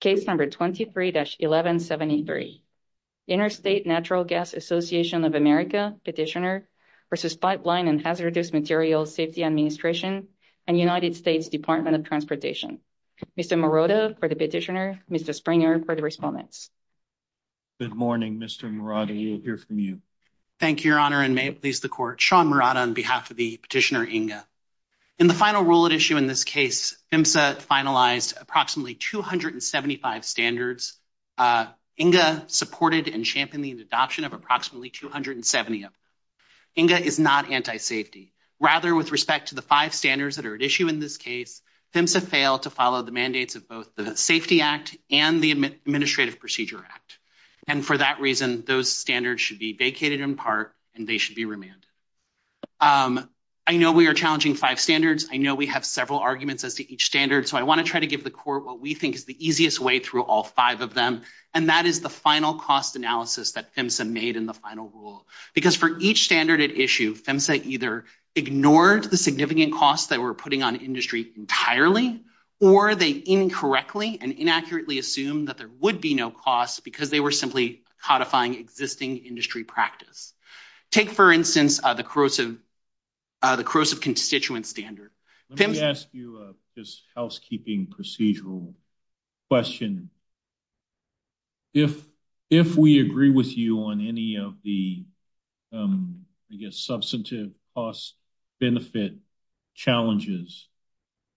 Case number 23-1173. Interstate Natural Gas Association of America petitioner versus Pipeline and Hazardous Materials Safety Administration and United States Department of Transportation. Mr. Morata for the petitioner, Mr. Springer for the respondents. Good morning Mr. Morata, we will hear from you. Thank you your honor and may it please the court. Sean Morata on behalf of the petitioner INGA. In the final rule at issue in this case PHMSA finalized approximately 275 standards. INGA supported and championed the adoption of approximately 270 of them. INGA is not anti-safety rather with respect to the five standards that are at issue in this case PHMSA failed to follow the mandates of both the Safety Act and the Administrative Procedure Act and for that reason those standards should be vacated in part and they should be remanded. I know we are challenging five standards, I know we have several arguments as to each standard so I want to try to give the court what we think is the easiest way through all five of them and that is the final cost analysis that PHMSA made in the final rule. Because for each standard at issue PHMSA either ignored the significant costs that we're putting on industry entirely or they incorrectly and inaccurately assumed that there would be no costs because they were simply codifying existing industry practice. Take for instance the corrosive constituent standard. Let me ask you a housekeeping procedural question. If we agree with you on any of the I guess substantive cost benefit challenges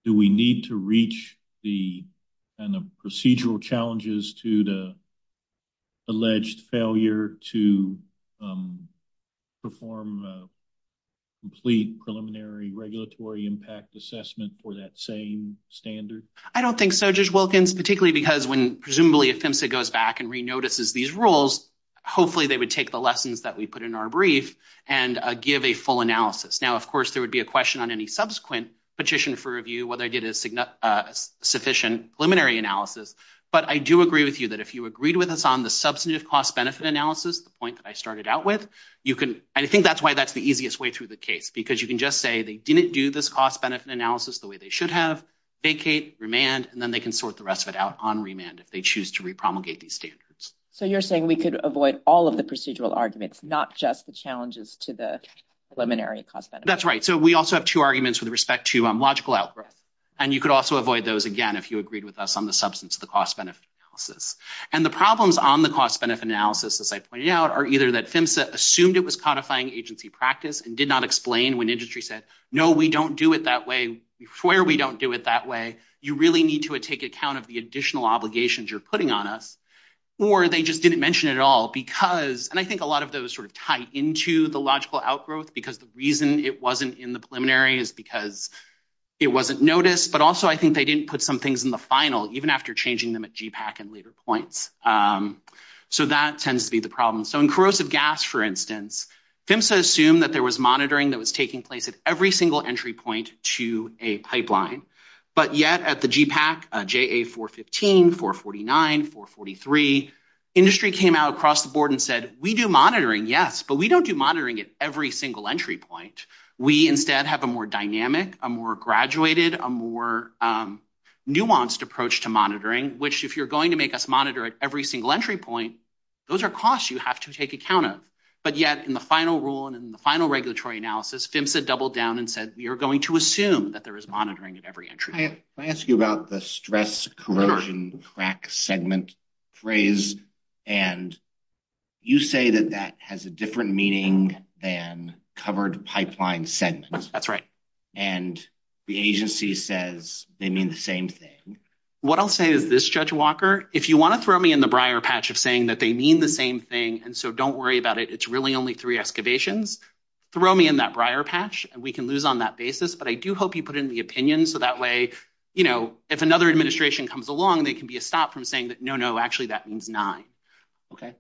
do we need to reach the kind of procedural challenges to the alleged failure to perform a complete preliminary regulatory impact assessment for that same standard? I don't think so Judge Wilkins particularly because when presumably if PHMSA goes back and re-notices these rules hopefully they would take the lessons that we put in our brief and give a full analysis. Now of course there would be a question on any subsequent petition for review whether I did a sufficient preliminary analysis but I do agree with you if you agreed with us on the substantive cost benefit analysis the point that I started out with you can and I think that's why that's the easiest way through the case because you can just say they didn't do this cost benefit analysis the way they should have vacate remand and then they can sort the rest of it out on remand if they choose to re-promulgate these standards. So you're saying we could avoid all of the procedural arguments not just the challenges to the preliminary cost benefit. That's right so we also have two arguments with respect to logical outgrowth and you could also avoid those again if you agreed with us on the substance of the cost benefit analysis and the problems on the cost benefit analysis as I pointed out are either that PHMSA assumed it was codifying agency practice and did not explain when industry said no we don't do it that way we swear we don't do it that way you really need to take account of the additional obligations you're putting on us or they just didn't mention it at all because and I think a lot of those sort of tie into the logical outgrowth because the reason it wasn't in the preliminary is because it wasn't noticed but I think they didn't put some things in the final even after changing them at GPAG and later points so that tends to be the problem so in corrosive gas for instance PHMSA assumed that there was monitoring that was taking place at every single entry point to a pipeline but yet at the GPAG JA415, 449, 443 industry came out across the board and said we do monitoring yes but we don't do monitoring at every single entry point we instead have a more dynamic a more graduated a more nuanced approach to monitoring which if you're going to make us monitor at every single entry point those are costs you have to take account of but yet in the final rule and in the final regulatory analysis PHMSA doubled down and said you're going to assume that there is monitoring at every entry I ask you about the stress corrosion crack segment phrase and you say that that has a they mean the same thing what I'll say is this Judge Walker if you want to throw me in the briar patch of saying that they mean the same thing and so don't worry about it it's really only three excavations throw me in that briar patch and we can lose on that basis but I do hope you put in the opinion so that way you know if another administration comes along they can be a stop from saying that no no actually that means nine okay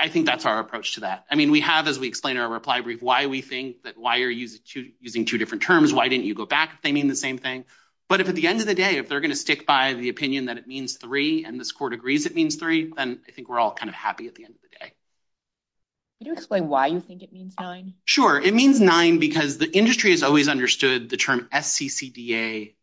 I think that's our approach to that I mean we have as we explain our reply brief why we think that why are you using two different terms why didn't you go back they mean the same thing but if at the end of the day if they're going to stick by the opinion that it means three and this court agrees it means three then I think we're all kind of happy at the end of the day you do explain why you think it means nine sure it means nine because the industry has always understood the term SCCDA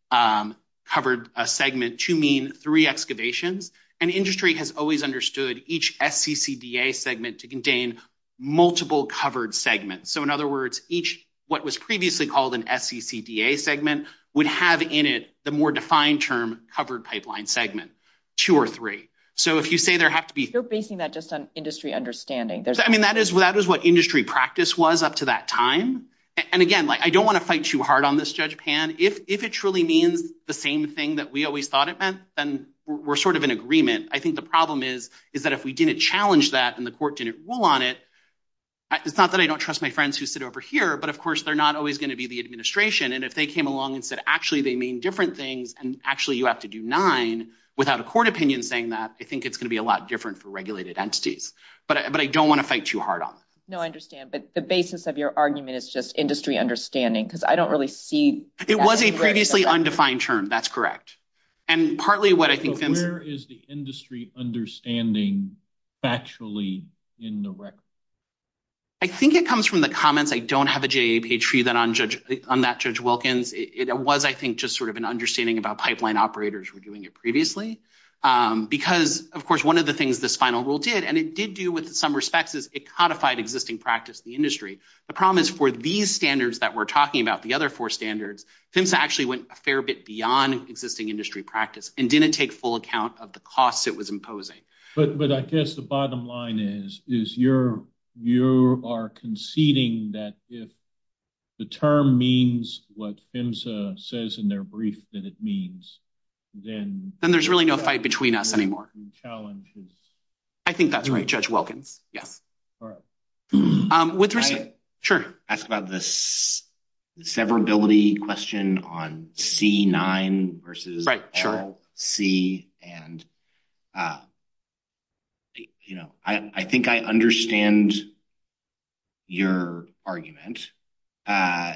covered a segment to mean three excavations and industry has always understood each SCCDA segment to contain multiple covered segments so in other words each what was previously called an SCCDA segment would have in it the more defined term covered pipeline segment two or three so if you say there have to be you're basing that just on industry understanding there's I mean that is what that is what industry practice was up to that time and again like I don't want to fight too hard on this judge pan if if it truly means the same thing that we always thought it meant then we're sort of in agreement I think the problem is is that if we didn't challenge that and the court didn't rule on it it's not that I don't trust my friends who sit over here but of course they're not always going to be the administration and if they came along and said actually they mean different things and actually you have to do nine without a court opinion saying that I think it's going to be a lot different for regulated entities but but I don't want to fight too hard on no I understand but the basis of your argument is just industry understanding because I don't really see it was a previously undefined term that's correct and partly what I think where is the industry understanding factually in the record I think it comes from the comments I don't have a JAP tree that on judge on that judge Wilkins it was I think just sort of an understanding about pipeline operators were doing it previously because of course one of the things this final rule did and it did do with some respects is it codified existing practice the industry the problem is for these standards that we're talking about the other four standards PHMSA actually went a fair bit beyond existing industry practice and didn't take full account of the costs it was imposing but but I guess the bottom line is is your you are conceding that if the term means what PHMSA says in their brief that it means then then there's really no fight between us anymore challenges I think that's right judge Wilkins yes all right um with research sure ask about this severability question on c9 versus c and uh you know I I think I understand your argument uh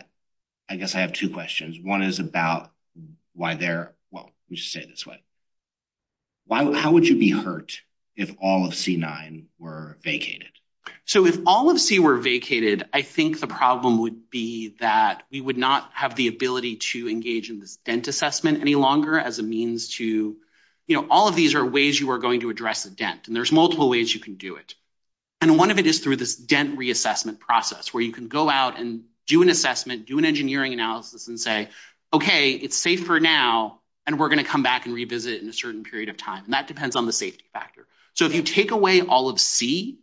I guess I have two questions one is about why they're well we should say this way why how would you be hurt if all of c9 were vacated so if all of c were vacated I think the problem would be that we would not have the ability to to you know all of these are ways you are going to address the dent and there's multiple ways you can do it and one of it is through this dent reassessment process where you can go out and do an assessment do an engineering analysis and say okay it's safe for now and we're going to come back and revisit in a certain period of time and that depends on the safety factor so if you take away all of c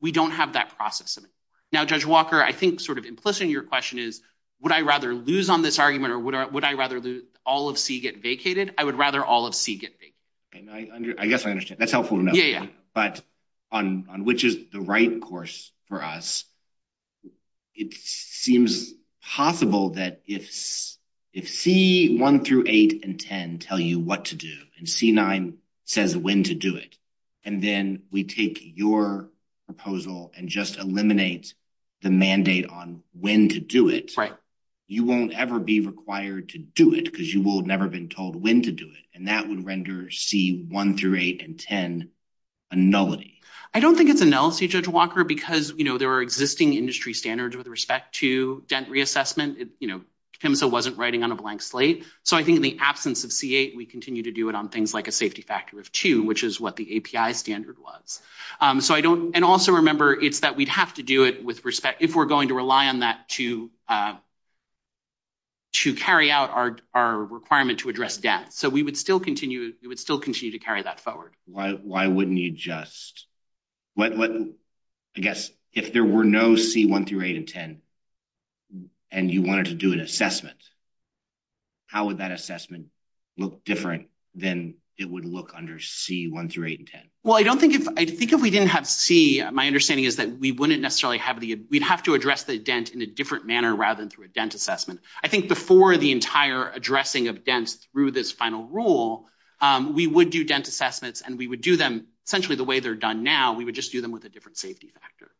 we don't have that process of it now judge walker I think sort of implicit in your question is would I rather lose on this argument or would I rather lose all of c get vacated I would rather all of c get big I guess I understand that's helpful to know yeah but on on which is the right course for us it seems possible that if if c1 through 8 and 10 tell you what to do and c9 says when to do it and then we take your proposal and just eliminate the mandate on when to do it right you won't ever be required to do it because you will never been told when to do it and that would render c1 through 8 and 10 a nullity I don't think it's a nullity judge walker because you know there are existing industry standards with respect to dent reassessment you know PIMSA wasn't writing on a blank slate so I think in the absence of c8 we continue to do it on things like a safety factor of two which is what the api standard was so I don't and also remember it's that we'd have to do it with respect if we're going to rely on to uh to carry out our our requirement to address death so we would still continue we would still continue to carry that forward why why wouldn't you just what what I guess if there were no c1 through 8 and 10 and you wanted to do an assessment how would that assessment look different than it would look under c1 through 8 and 10 well I don't think if I think if we didn't have c my understanding is that we wouldn't necessarily have the we'd have to address the dent in a different manner rather than through a dent assessment I think before the entire addressing of dents through this final rule we would do dent assessments and we would do them essentially the way they're done now we would just do them with a different safety factor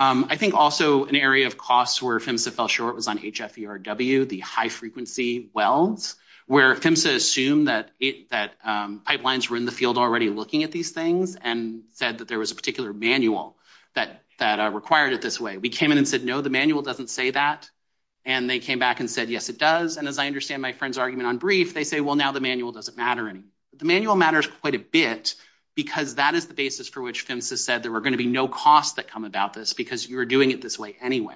I think also an area of costs where PIMSA fell short was on hferw the high frequency wells where PIMSA assumed that it that pipelines were already looking at these things and said that there was a particular manual that that required it this way we came in and said no the manual doesn't say that and they came back and said yes it does and as I understand my friend's argument on brief they say well now the manual doesn't matter any the manual matters quite a bit because that is the basis for which PIMSA said there were going to be no costs that come about this because you're doing it this way anyway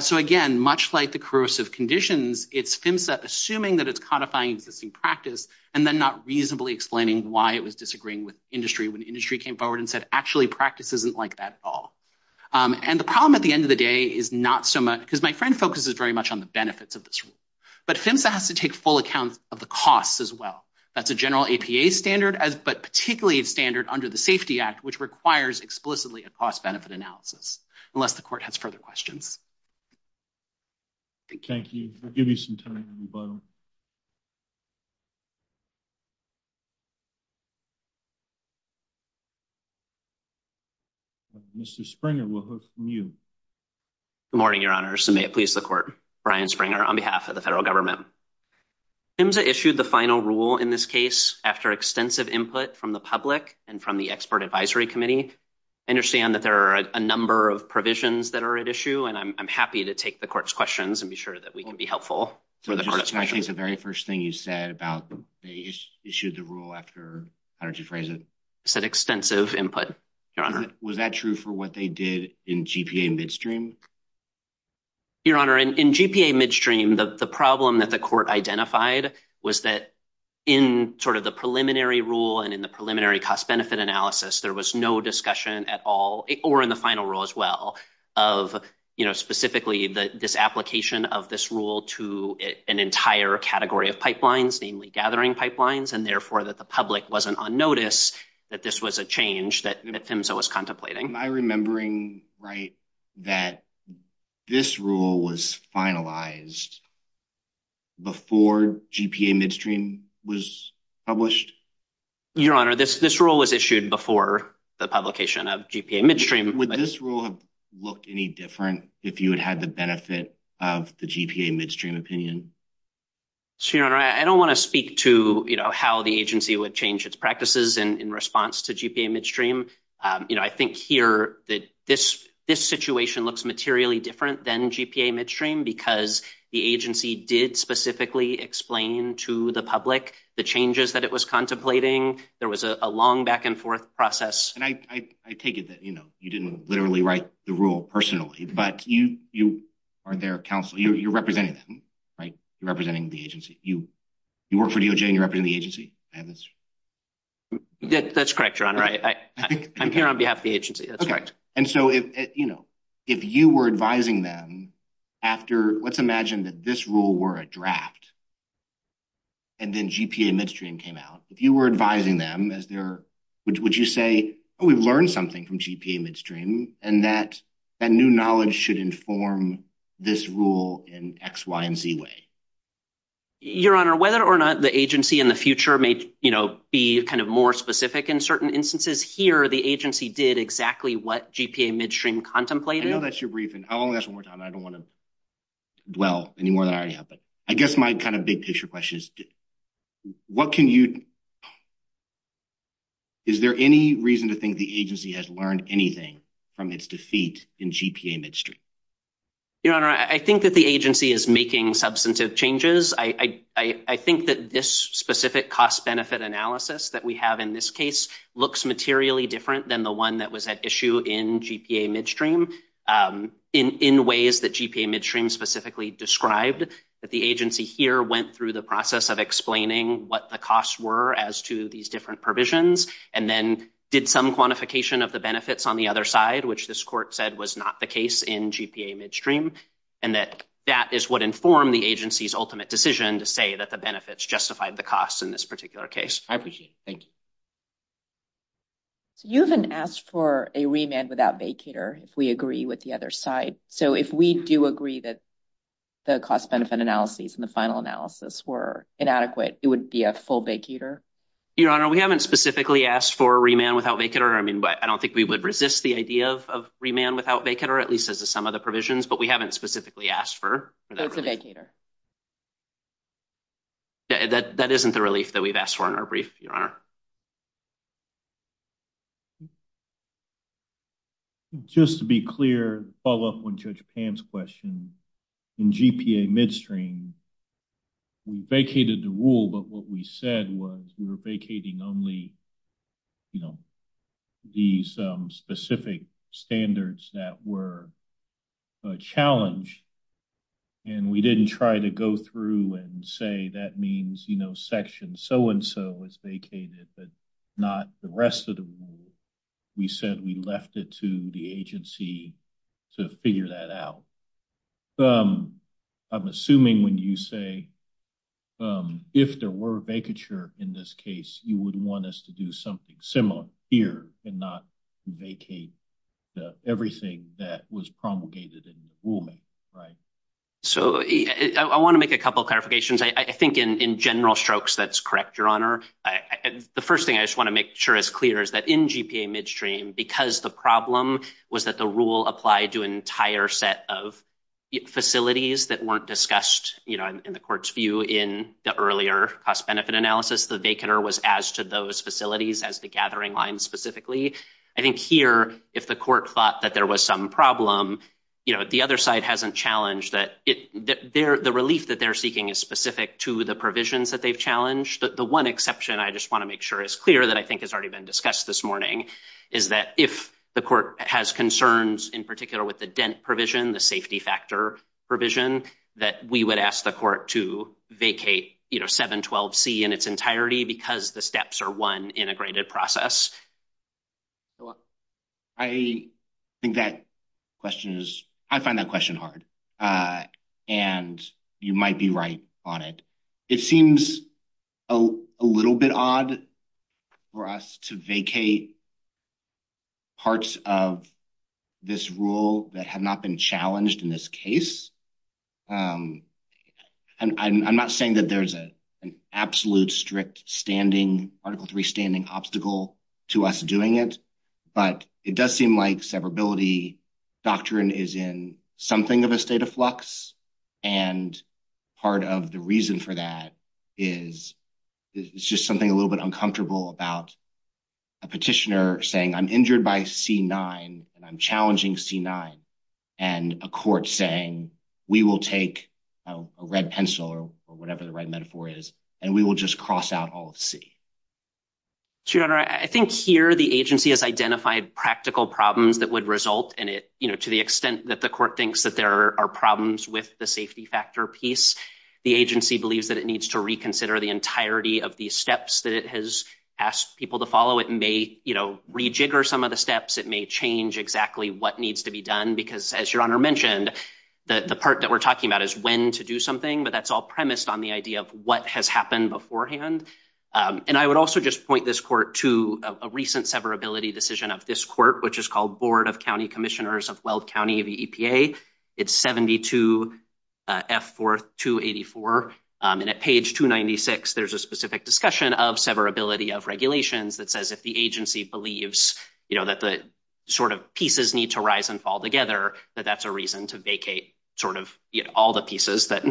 so again much like the corrosive conditions it's PIMSA assuming that it's codifying existing practice and then not reasonably explaining why it was disagreeing with industry when industry came forward and said actually practice isn't like that at all and the problem at the end of the day is not so much because my friend focuses very much on the benefits of this rule but PIMSA has to take full account of the costs as well that's a general APA standard as but particularly standard under the safety act which requires explicitly a cost-benefit analysis unless the court has further questions Thank you for giving some time on the phone Mr. Springer we'll hear from you good morning your honor so may it please the court Brian Springer on behalf of the federal government PIMSA issued the final rule in this case after extensive input from the public and from the expert advisory committee I understand that there are a I'm happy to take the court's questions and be sure that we can be helpful so I think the very first thing you said about they issued the rule after how did you phrase it said extensive input your honor was that true for what they did in GPA midstream your honor in GPA midstream the problem that the court identified was that in sort of the preliminary rule and in the preliminary cost-benefit analysis there was no discussion at all or in the final rule as well of you know specifically that this application of this rule to an entire category of pipelines namely gathering pipelines and therefore that the public wasn't on notice that this was a change that PIMSA was contemplating am I remembering right that this rule was finalized before GPA midstream was published your honor this this rule was issued before the publication of GPA midstream would this rule have looked any different if you had the benefit of the GPA midstream opinion so your honor I don't want to speak to you know how the agency would change its practices and in response to GPA midstream um you know I think here that this this situation looks materially different than GPA midstream because the agency did specifically explain to the public the changes that it was contemplating there was a long back and forth process and I I take it that you know you didn't literally write the rule personally but you you are their counsel you're representing them right you're representing the agency you you work for DOJ and you're representing the agency I have this that's correct your honor right I I'm here on behalf of the agency that's correct and so if you know if you were advising them after let's imagine that this rule were a draft and then GPA midstream came out if you were advising them as their would you say we've learned something from GPA midstream and that that new knowledge should inform this rule in x y and z way your honor whether or not the agency in the future may you know be kind of more specific in certain instances here the agency did exactly what GPA midstream contemplated I know that's your brief and I'll ask one more time I don't want to dwell any more than I already have but I guess my kind of big picture question is what can you is there any reason to think the agency has learned anything from its defeat in GPA midstream your honor I think that the agency is making substantive changes I I I think that this specific cost benefit analysis that we have in this case looks materially different than the one that was at issue in GPA midstream in in ways that GPA midstream specifically described that the agency here went through the process of explaining what the costs were as to these different provisions and then did some quantification of the benefits on the other side which this court said was not the case in GPA midstream and that that is what informed the agency's ultimate decision to say that the benefits justified the costs in this particular case I appreciate it thank you so you haven't asked for a remand without vacator if we agree with the other side so if we do agree that the cost benefit analyses and the final analysis were inadequate it would be a full vacator your honor we haven't specifically asked for a remand without vacator I mean but I don't think we would resist the idea of remand without vacator at least as to some of the provisions but we haven't specifically asked for a vacator yeah that that isn't the relief that we've asked for in our brief your honor just to be clear follow up on judge pan's question in GPA midstream we vacated the rule but what we said was we were vacating only you know these specific standards that were challenged and we didn't try to go through and say that means you know section so and so is vacated but not the rest of the rule we said we left it to the agency to figure that out um I'm assuming when you say um if there were vacature in this case you would want us to do something similar here and not vacate everything that was promulgated in the rulemaking right so I want to make a couple clarifications I think in in general strokes that's correct your honor the first thing I just want to make sure is clear is that in GPA midstream because the problem was that the rule applied to an entire set of facilities that weren't discussed you know in the court's view in the earlier cost benefit analysis the vacator was as to those facilities as the gathering line specifically I think here if the court thought that there was some problem you know the other side hasn't challenged that it that they're the relief that they're seeking is specific to the provisions that they've challenged the one exception I just want to make sure is clear that I think has already been discussed this morning is that if the court has concerns in particular with the dent provision the safety factor provision that we would ask the court to vacate you know 712c in its entirety because the steps are one integrated process I think that question is I find that question hard and you might be right on it it seems a little bit odd for us to vacate parts of this rule that have not been challenged in this case and I'm not saying that there's a an absolute strict standing article three standing obstacle to us doing it but it does seem like severability doctrine is in something of a state of flux and part of the reason for that is it's just something a little bit uncomfortable about a petitioner saying I'm injured by c9 and I'm challenging c9 and a court saying we will take a red pencil or whatever the right metaphor is and we will just cross out all of c so your honor I think here the agency has identified practical problems that would result in it you know to the extent that the court thinks that there are problems with the safety factor piece the agency believes that it needs to reconsider the entirety of these steps that it has asked people to follow it may you know rejigger some of the steps it may change exactly what needs to be done because as your honor mentioned the the part that we're talking about is when to do something but that's all premised on the idea of what has happened beforehand and I would also just point this court to a recent severability decision of this court which is called board of county commissioners of weld county the epa it's 72 f 4 284 and at page 296 there's a specific discussion of severability of regulations that says if the agency believes you know that the sort of pieces need to rise and fall together that that's a reason to vacate sort of you know the pieces that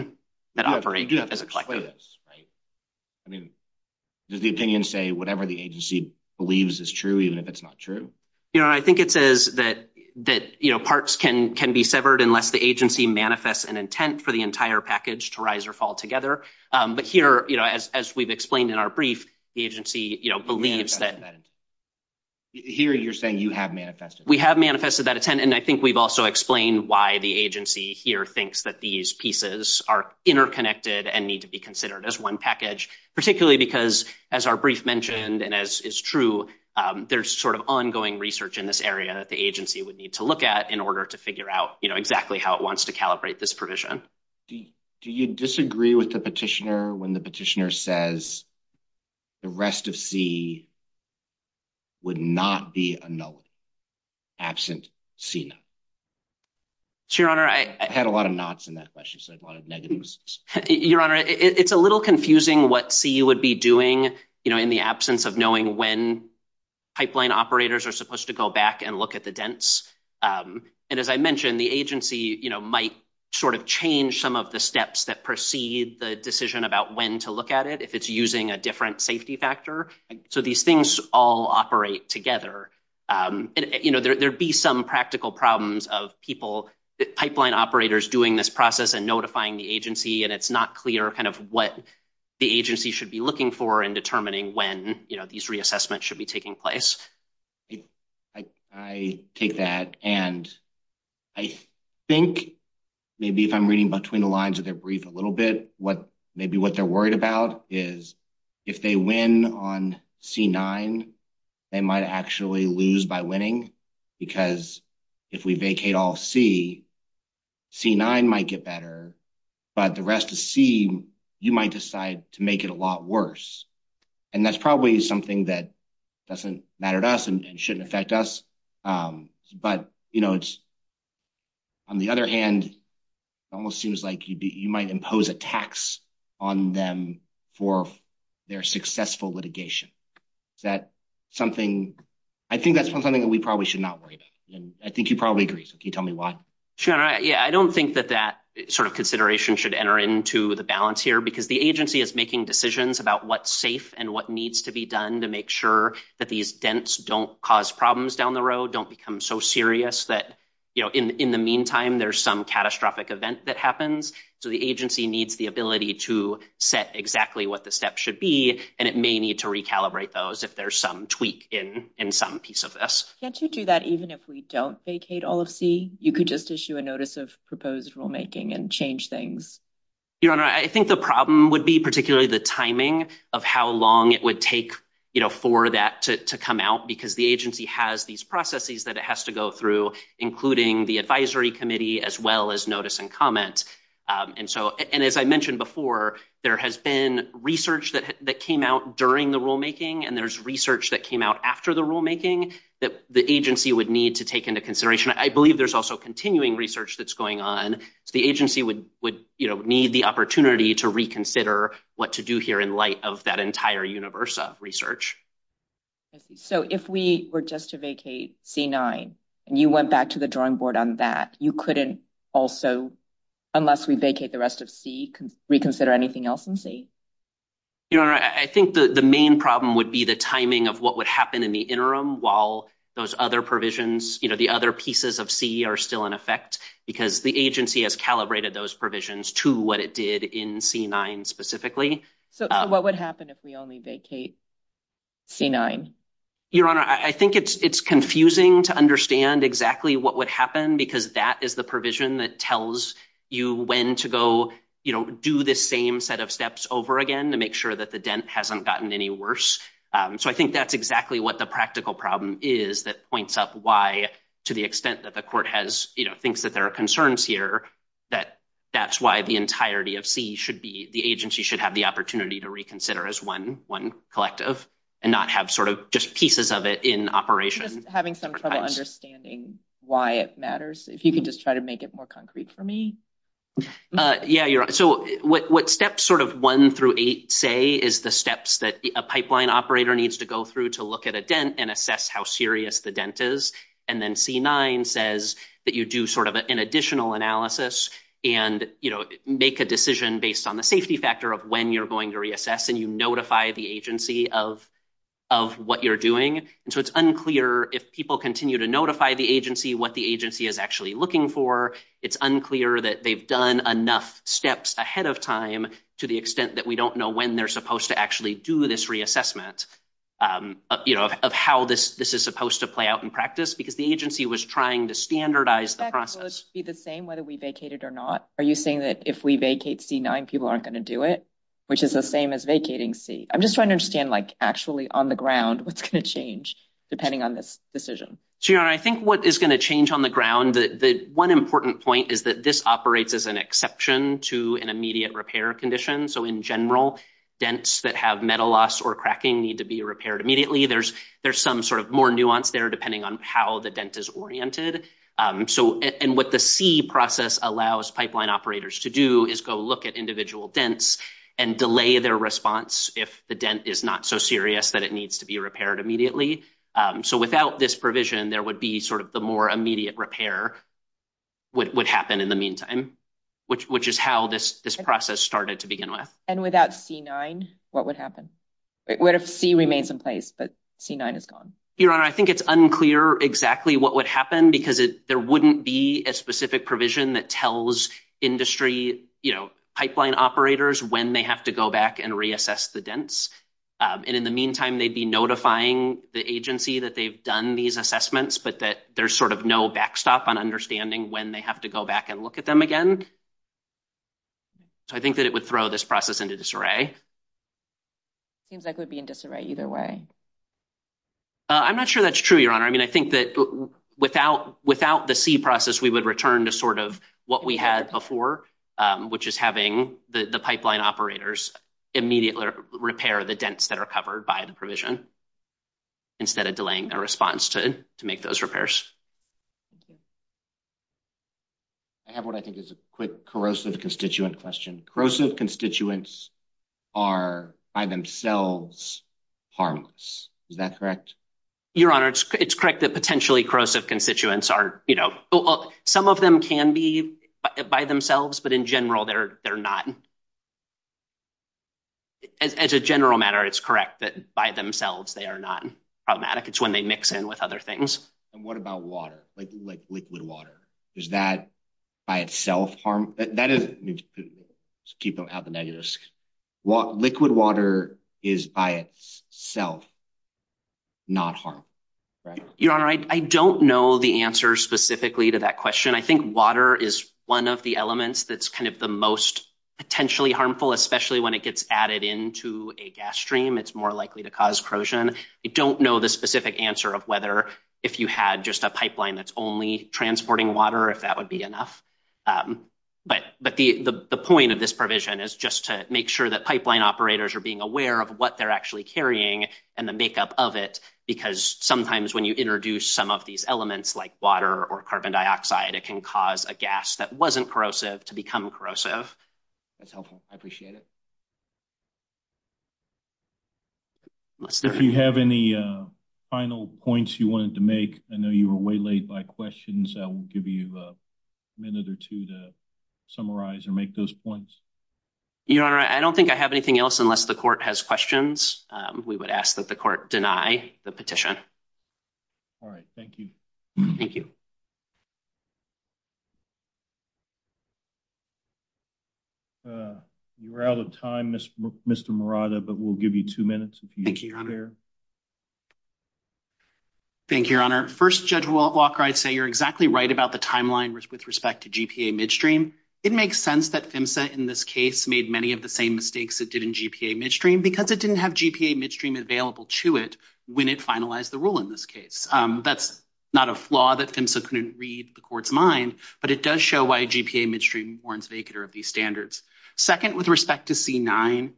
that operate as a collective right I mean does the opinion say whatever the agency believes is true even if it's not true you know I think it says that that you know parts can can be severed unless the agency manifests an intent for the entire package to rise or fall together but here you know as as we've explained in our brief the agency you know believes that here you're saying you have manifested we have manifested that intent and I think we've also explained why the agency here thinks that these pieces are interconnected and need to be considered as one package particularly because as our brief mentioned and as is true there's sort of ongoing research in this area that the agency would need to look at in order to figure out you know exactly how it wants to calibrate this provision do you disagree with the petitioner when the petitioner says the rest of c would not be a nullity absent c now your honor I had a lot of knots in that question so a lot of negatives your honor it's a little confusing what c you would be doing you know in the absence of knowing when pipeline operators are supposed to go back and look at the dents um and as I mentioned the agency you know might sort of change some of the steps that the decision about when to look at it if it's using a different safety factor so these things all operate together um you know there'd be some practical problems of people that pipeline operators doing this process and notifying the agency and it's not clear kind of what the agency should be looking for and determining when you know these reassessments should be taking place I take that and I think maybe if I'm reading between the lines of their brief a little bit what maybe what they're worried about is if they win on c9 they might actually lose by winning because if we vacate all c c9 might get better but the rest of c you might decide to make it a lot worse and that's probably something that doesn't matter to us and impose a tax on them for their successful litigation is that something I think that's something that we probably should not worry about and I think you probably agree so can you tell me why sure yeah I don't think that that sort of consideration should enter into the balance here because the agency is making decisions about what's safe and what needs to be done to make sure that these dents don't cause problems down the road don't become so serious that you know in in the meantime there's some catastrophic event that happens so the agency needs the ability to set exactly what the steps should be and it may need to recalibrate those if there's some tweak in in some piece of this can't you do that even if we don't vacate all of c you could just issue a notice of proposed rulemaking and change things your honor I think the problem would be particularly the timing of how long it would take you know for that to come out because the agency has these processes that it has to go through including the advisory committee as well as notice and comment and so and as I mentioned before there has been research that that came out during the rulemaking and there's research that came out after the rulemaking that the agency would need to take into consideration I believe there's also continuing research that's going on so the agency would would you know need the opportunity to reconsider what to do here in entire universe of research so if we were just to vacate c9 and you went back to the drawing board on that you couldn't also unless we vacate the rest of c reconsider anything else in c your honor I think the the main problem would be the timing of what would happen in the interim while those other provisions you know the other pieces of c are still in effect because the agency has calibrated those provisions to what it did in c9 specifically so what would happen if we only vacate c9 your honor I think it's it's confusing to understand exactly what would happen because that is the provision that tells you when to go you know do this same set of steps over again to make sure that the dent hasn't gotten any worse um so I think that's exactly what the practical problem is that points up why to the extent that the court has you know thinks that there are that that's why the entirety of c should be the agency should have the opportunity to reconsider as one one collective and not have sort of just pieces of it in operation just having some trouble understanding why it matters if you can just try to make it more concrete for me uh yeah you're so what what steps sort of one through eight say is the steps that a pipeline operator needs to go through to look at a dent and assess how serious the dent is and then c9 says that you do sort of an additional analysis and you know make a decision based on the safety factor of when you're going to reassess and you notify the agency of of what you're doing and so it's unclear if people continue to notify the agency what the agency is actually looking for it's unclear that they've done enough steps ahead of time to the extent that we don't know when they're supposed to actually do this reassessment um you know of how this this is supposed to play out in practice because the agency was trying to standardize the process be the same whether we vacated or not are you saying that if we vacate c9 people aren't going to do it which is the same as vacating c i'm just trying to understand like actually on the ground what's going to change depending on this decision so you know i think what is going to change on the ground the the one important point is that this operates as an exception to an immediate repair condition so in general dents that have metal loss or cracking need to be repaired immediately there's there's some sort of more nuance there depending on how the dent is oriented um so and what the c process allows pipeline operators to do is go look at individual dents and delay their response if the dent is not so serious that it needs to be repaired immediately um so without this provision there would be sort of the more immediate repair would happen in the meantime which which is how this this process started to begin with and without c9 what would happen it would have c remains in place but c9 is gone your honor i think it's unclear exactly what would happen because it there wouldn't be a specific provision that tells industry you know pipeline operators when they have to go back and reassess the dents and in the meantime they'd be notifying the agency that they've done these assessments but that there's sort of no backstop on understanding when they have to go back and look at them again so i think that it would throw this process into disarray seems like in disarray either way i'm not sure that's true your honor i mean i think that without without the c process we would return to sort of what we had before um which is having the the pipeline operators immediately repair the dents that are covered by the provision instead of delaying their response to to make those repairs i have what i think is a quick corrosive constituent question corrosive constituents are by themselves harmless is that correct your honor it's correct that potentially corrosive constituents are you know some of them can be by themselves but in general they're they're not as a general matter it's correct that by themselves they are not problematic it's when they mix in with other things and what about water like like liquid water is that by itself harm that is keep them out the negative what liquid water is by itself not harm right your honor i don't know the answer specifically to that question i think water is one of the elements that's kind of the most potentially harmful especially when it gets added into a gas stream it's more likely to cause corrosion i don't know the specific answer of if you had just a pipeline that's only transporting water if that would be enough but but the the point of this provision is just to make sure that pipeline operators are being aware of what they're actually carrying and the makeup of it because sometimes when you introduce some of these elements like water or carbon dioxide it can cause a gas that wasn't corrosive to become corrosive that's helpful i appreciate it unless if you have any uh final points you wanted to make i know you were way late by questions i will give you a minute or two to summarize or make those points your honor i don't think i have anything else unless the court has questions um we would ask that the court deny the petition all right thank you thank you uh you're out of time mr mr murata but we'll give you two minutes thank you thank you your honor first judge walker i'd say you're exactly right about the timeline with respect to gpa midstream it makes sense that phimsa in this case made many of the same mistakes it did in gpa midstream because it didn't have gpa midstream available to it when it finalized the rule in this case um that's not a flaw that phimsa couldn't read the court's mind but it does show why gpa midstream warrants vacater of these standards second with respect to c9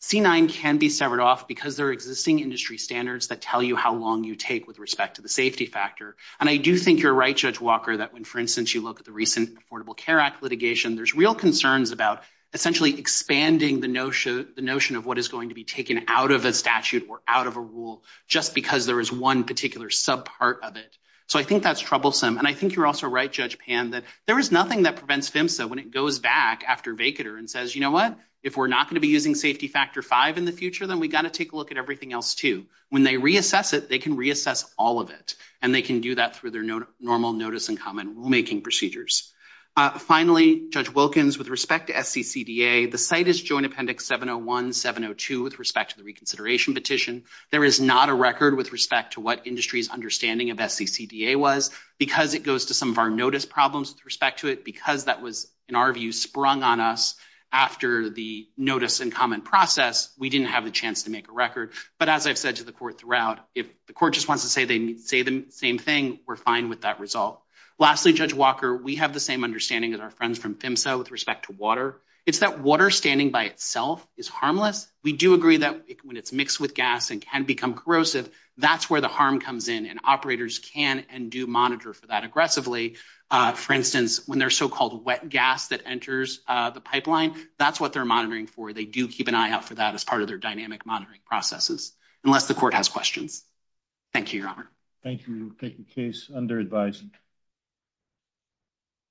c9 can be severed off because there are existing industry standards that tell you how long you take with respect to the safety factor and i do think you're right judge walker that when for instance you look at the recent affordable care act litigation there's real concerns about essentially expanding the notion the notion of what is going to be taken out of a statute or out of a rule just because there is one particular sub part of it so i think that's troublesome and i think you're also right judge pan that there is nothing that prevents phimsa when it goes back after vacater and says you know what if we're not going to be using safety factor 5 in the future then we got to take a look at everything else too when they reassess it they can reassess all of it and they can do that through their normal notice and common rule making procedures uh finally judge wilkins with respect to sccda the site is joint appendix 701 702 with respect to the reconsideration petition there is not a record with respect to what industry's understanding of sccda was because it goes to some of our notice problems with respect to it because that was in our view sprung on us after the notice and common process we didn't have the chance to make a record but as i've said to the court throughout if the court just wants to say they say the same thing we're fine with that result lastly judge walker we have the same understanding as our friends from phimsa with respect to water it's that water standing by itself is harmless we do agree that when it's mixed with gas and can become corrosive that's where the harm comes in and operators can and do monitor for that aggressively uh for instance when there's so-called wet gas that enters uh the pipeline that's what they're monitoring for they do keep an eye out for that as part of their dynamic monitoring processes unless the court has thank you your honor thank you we'll take the case under advised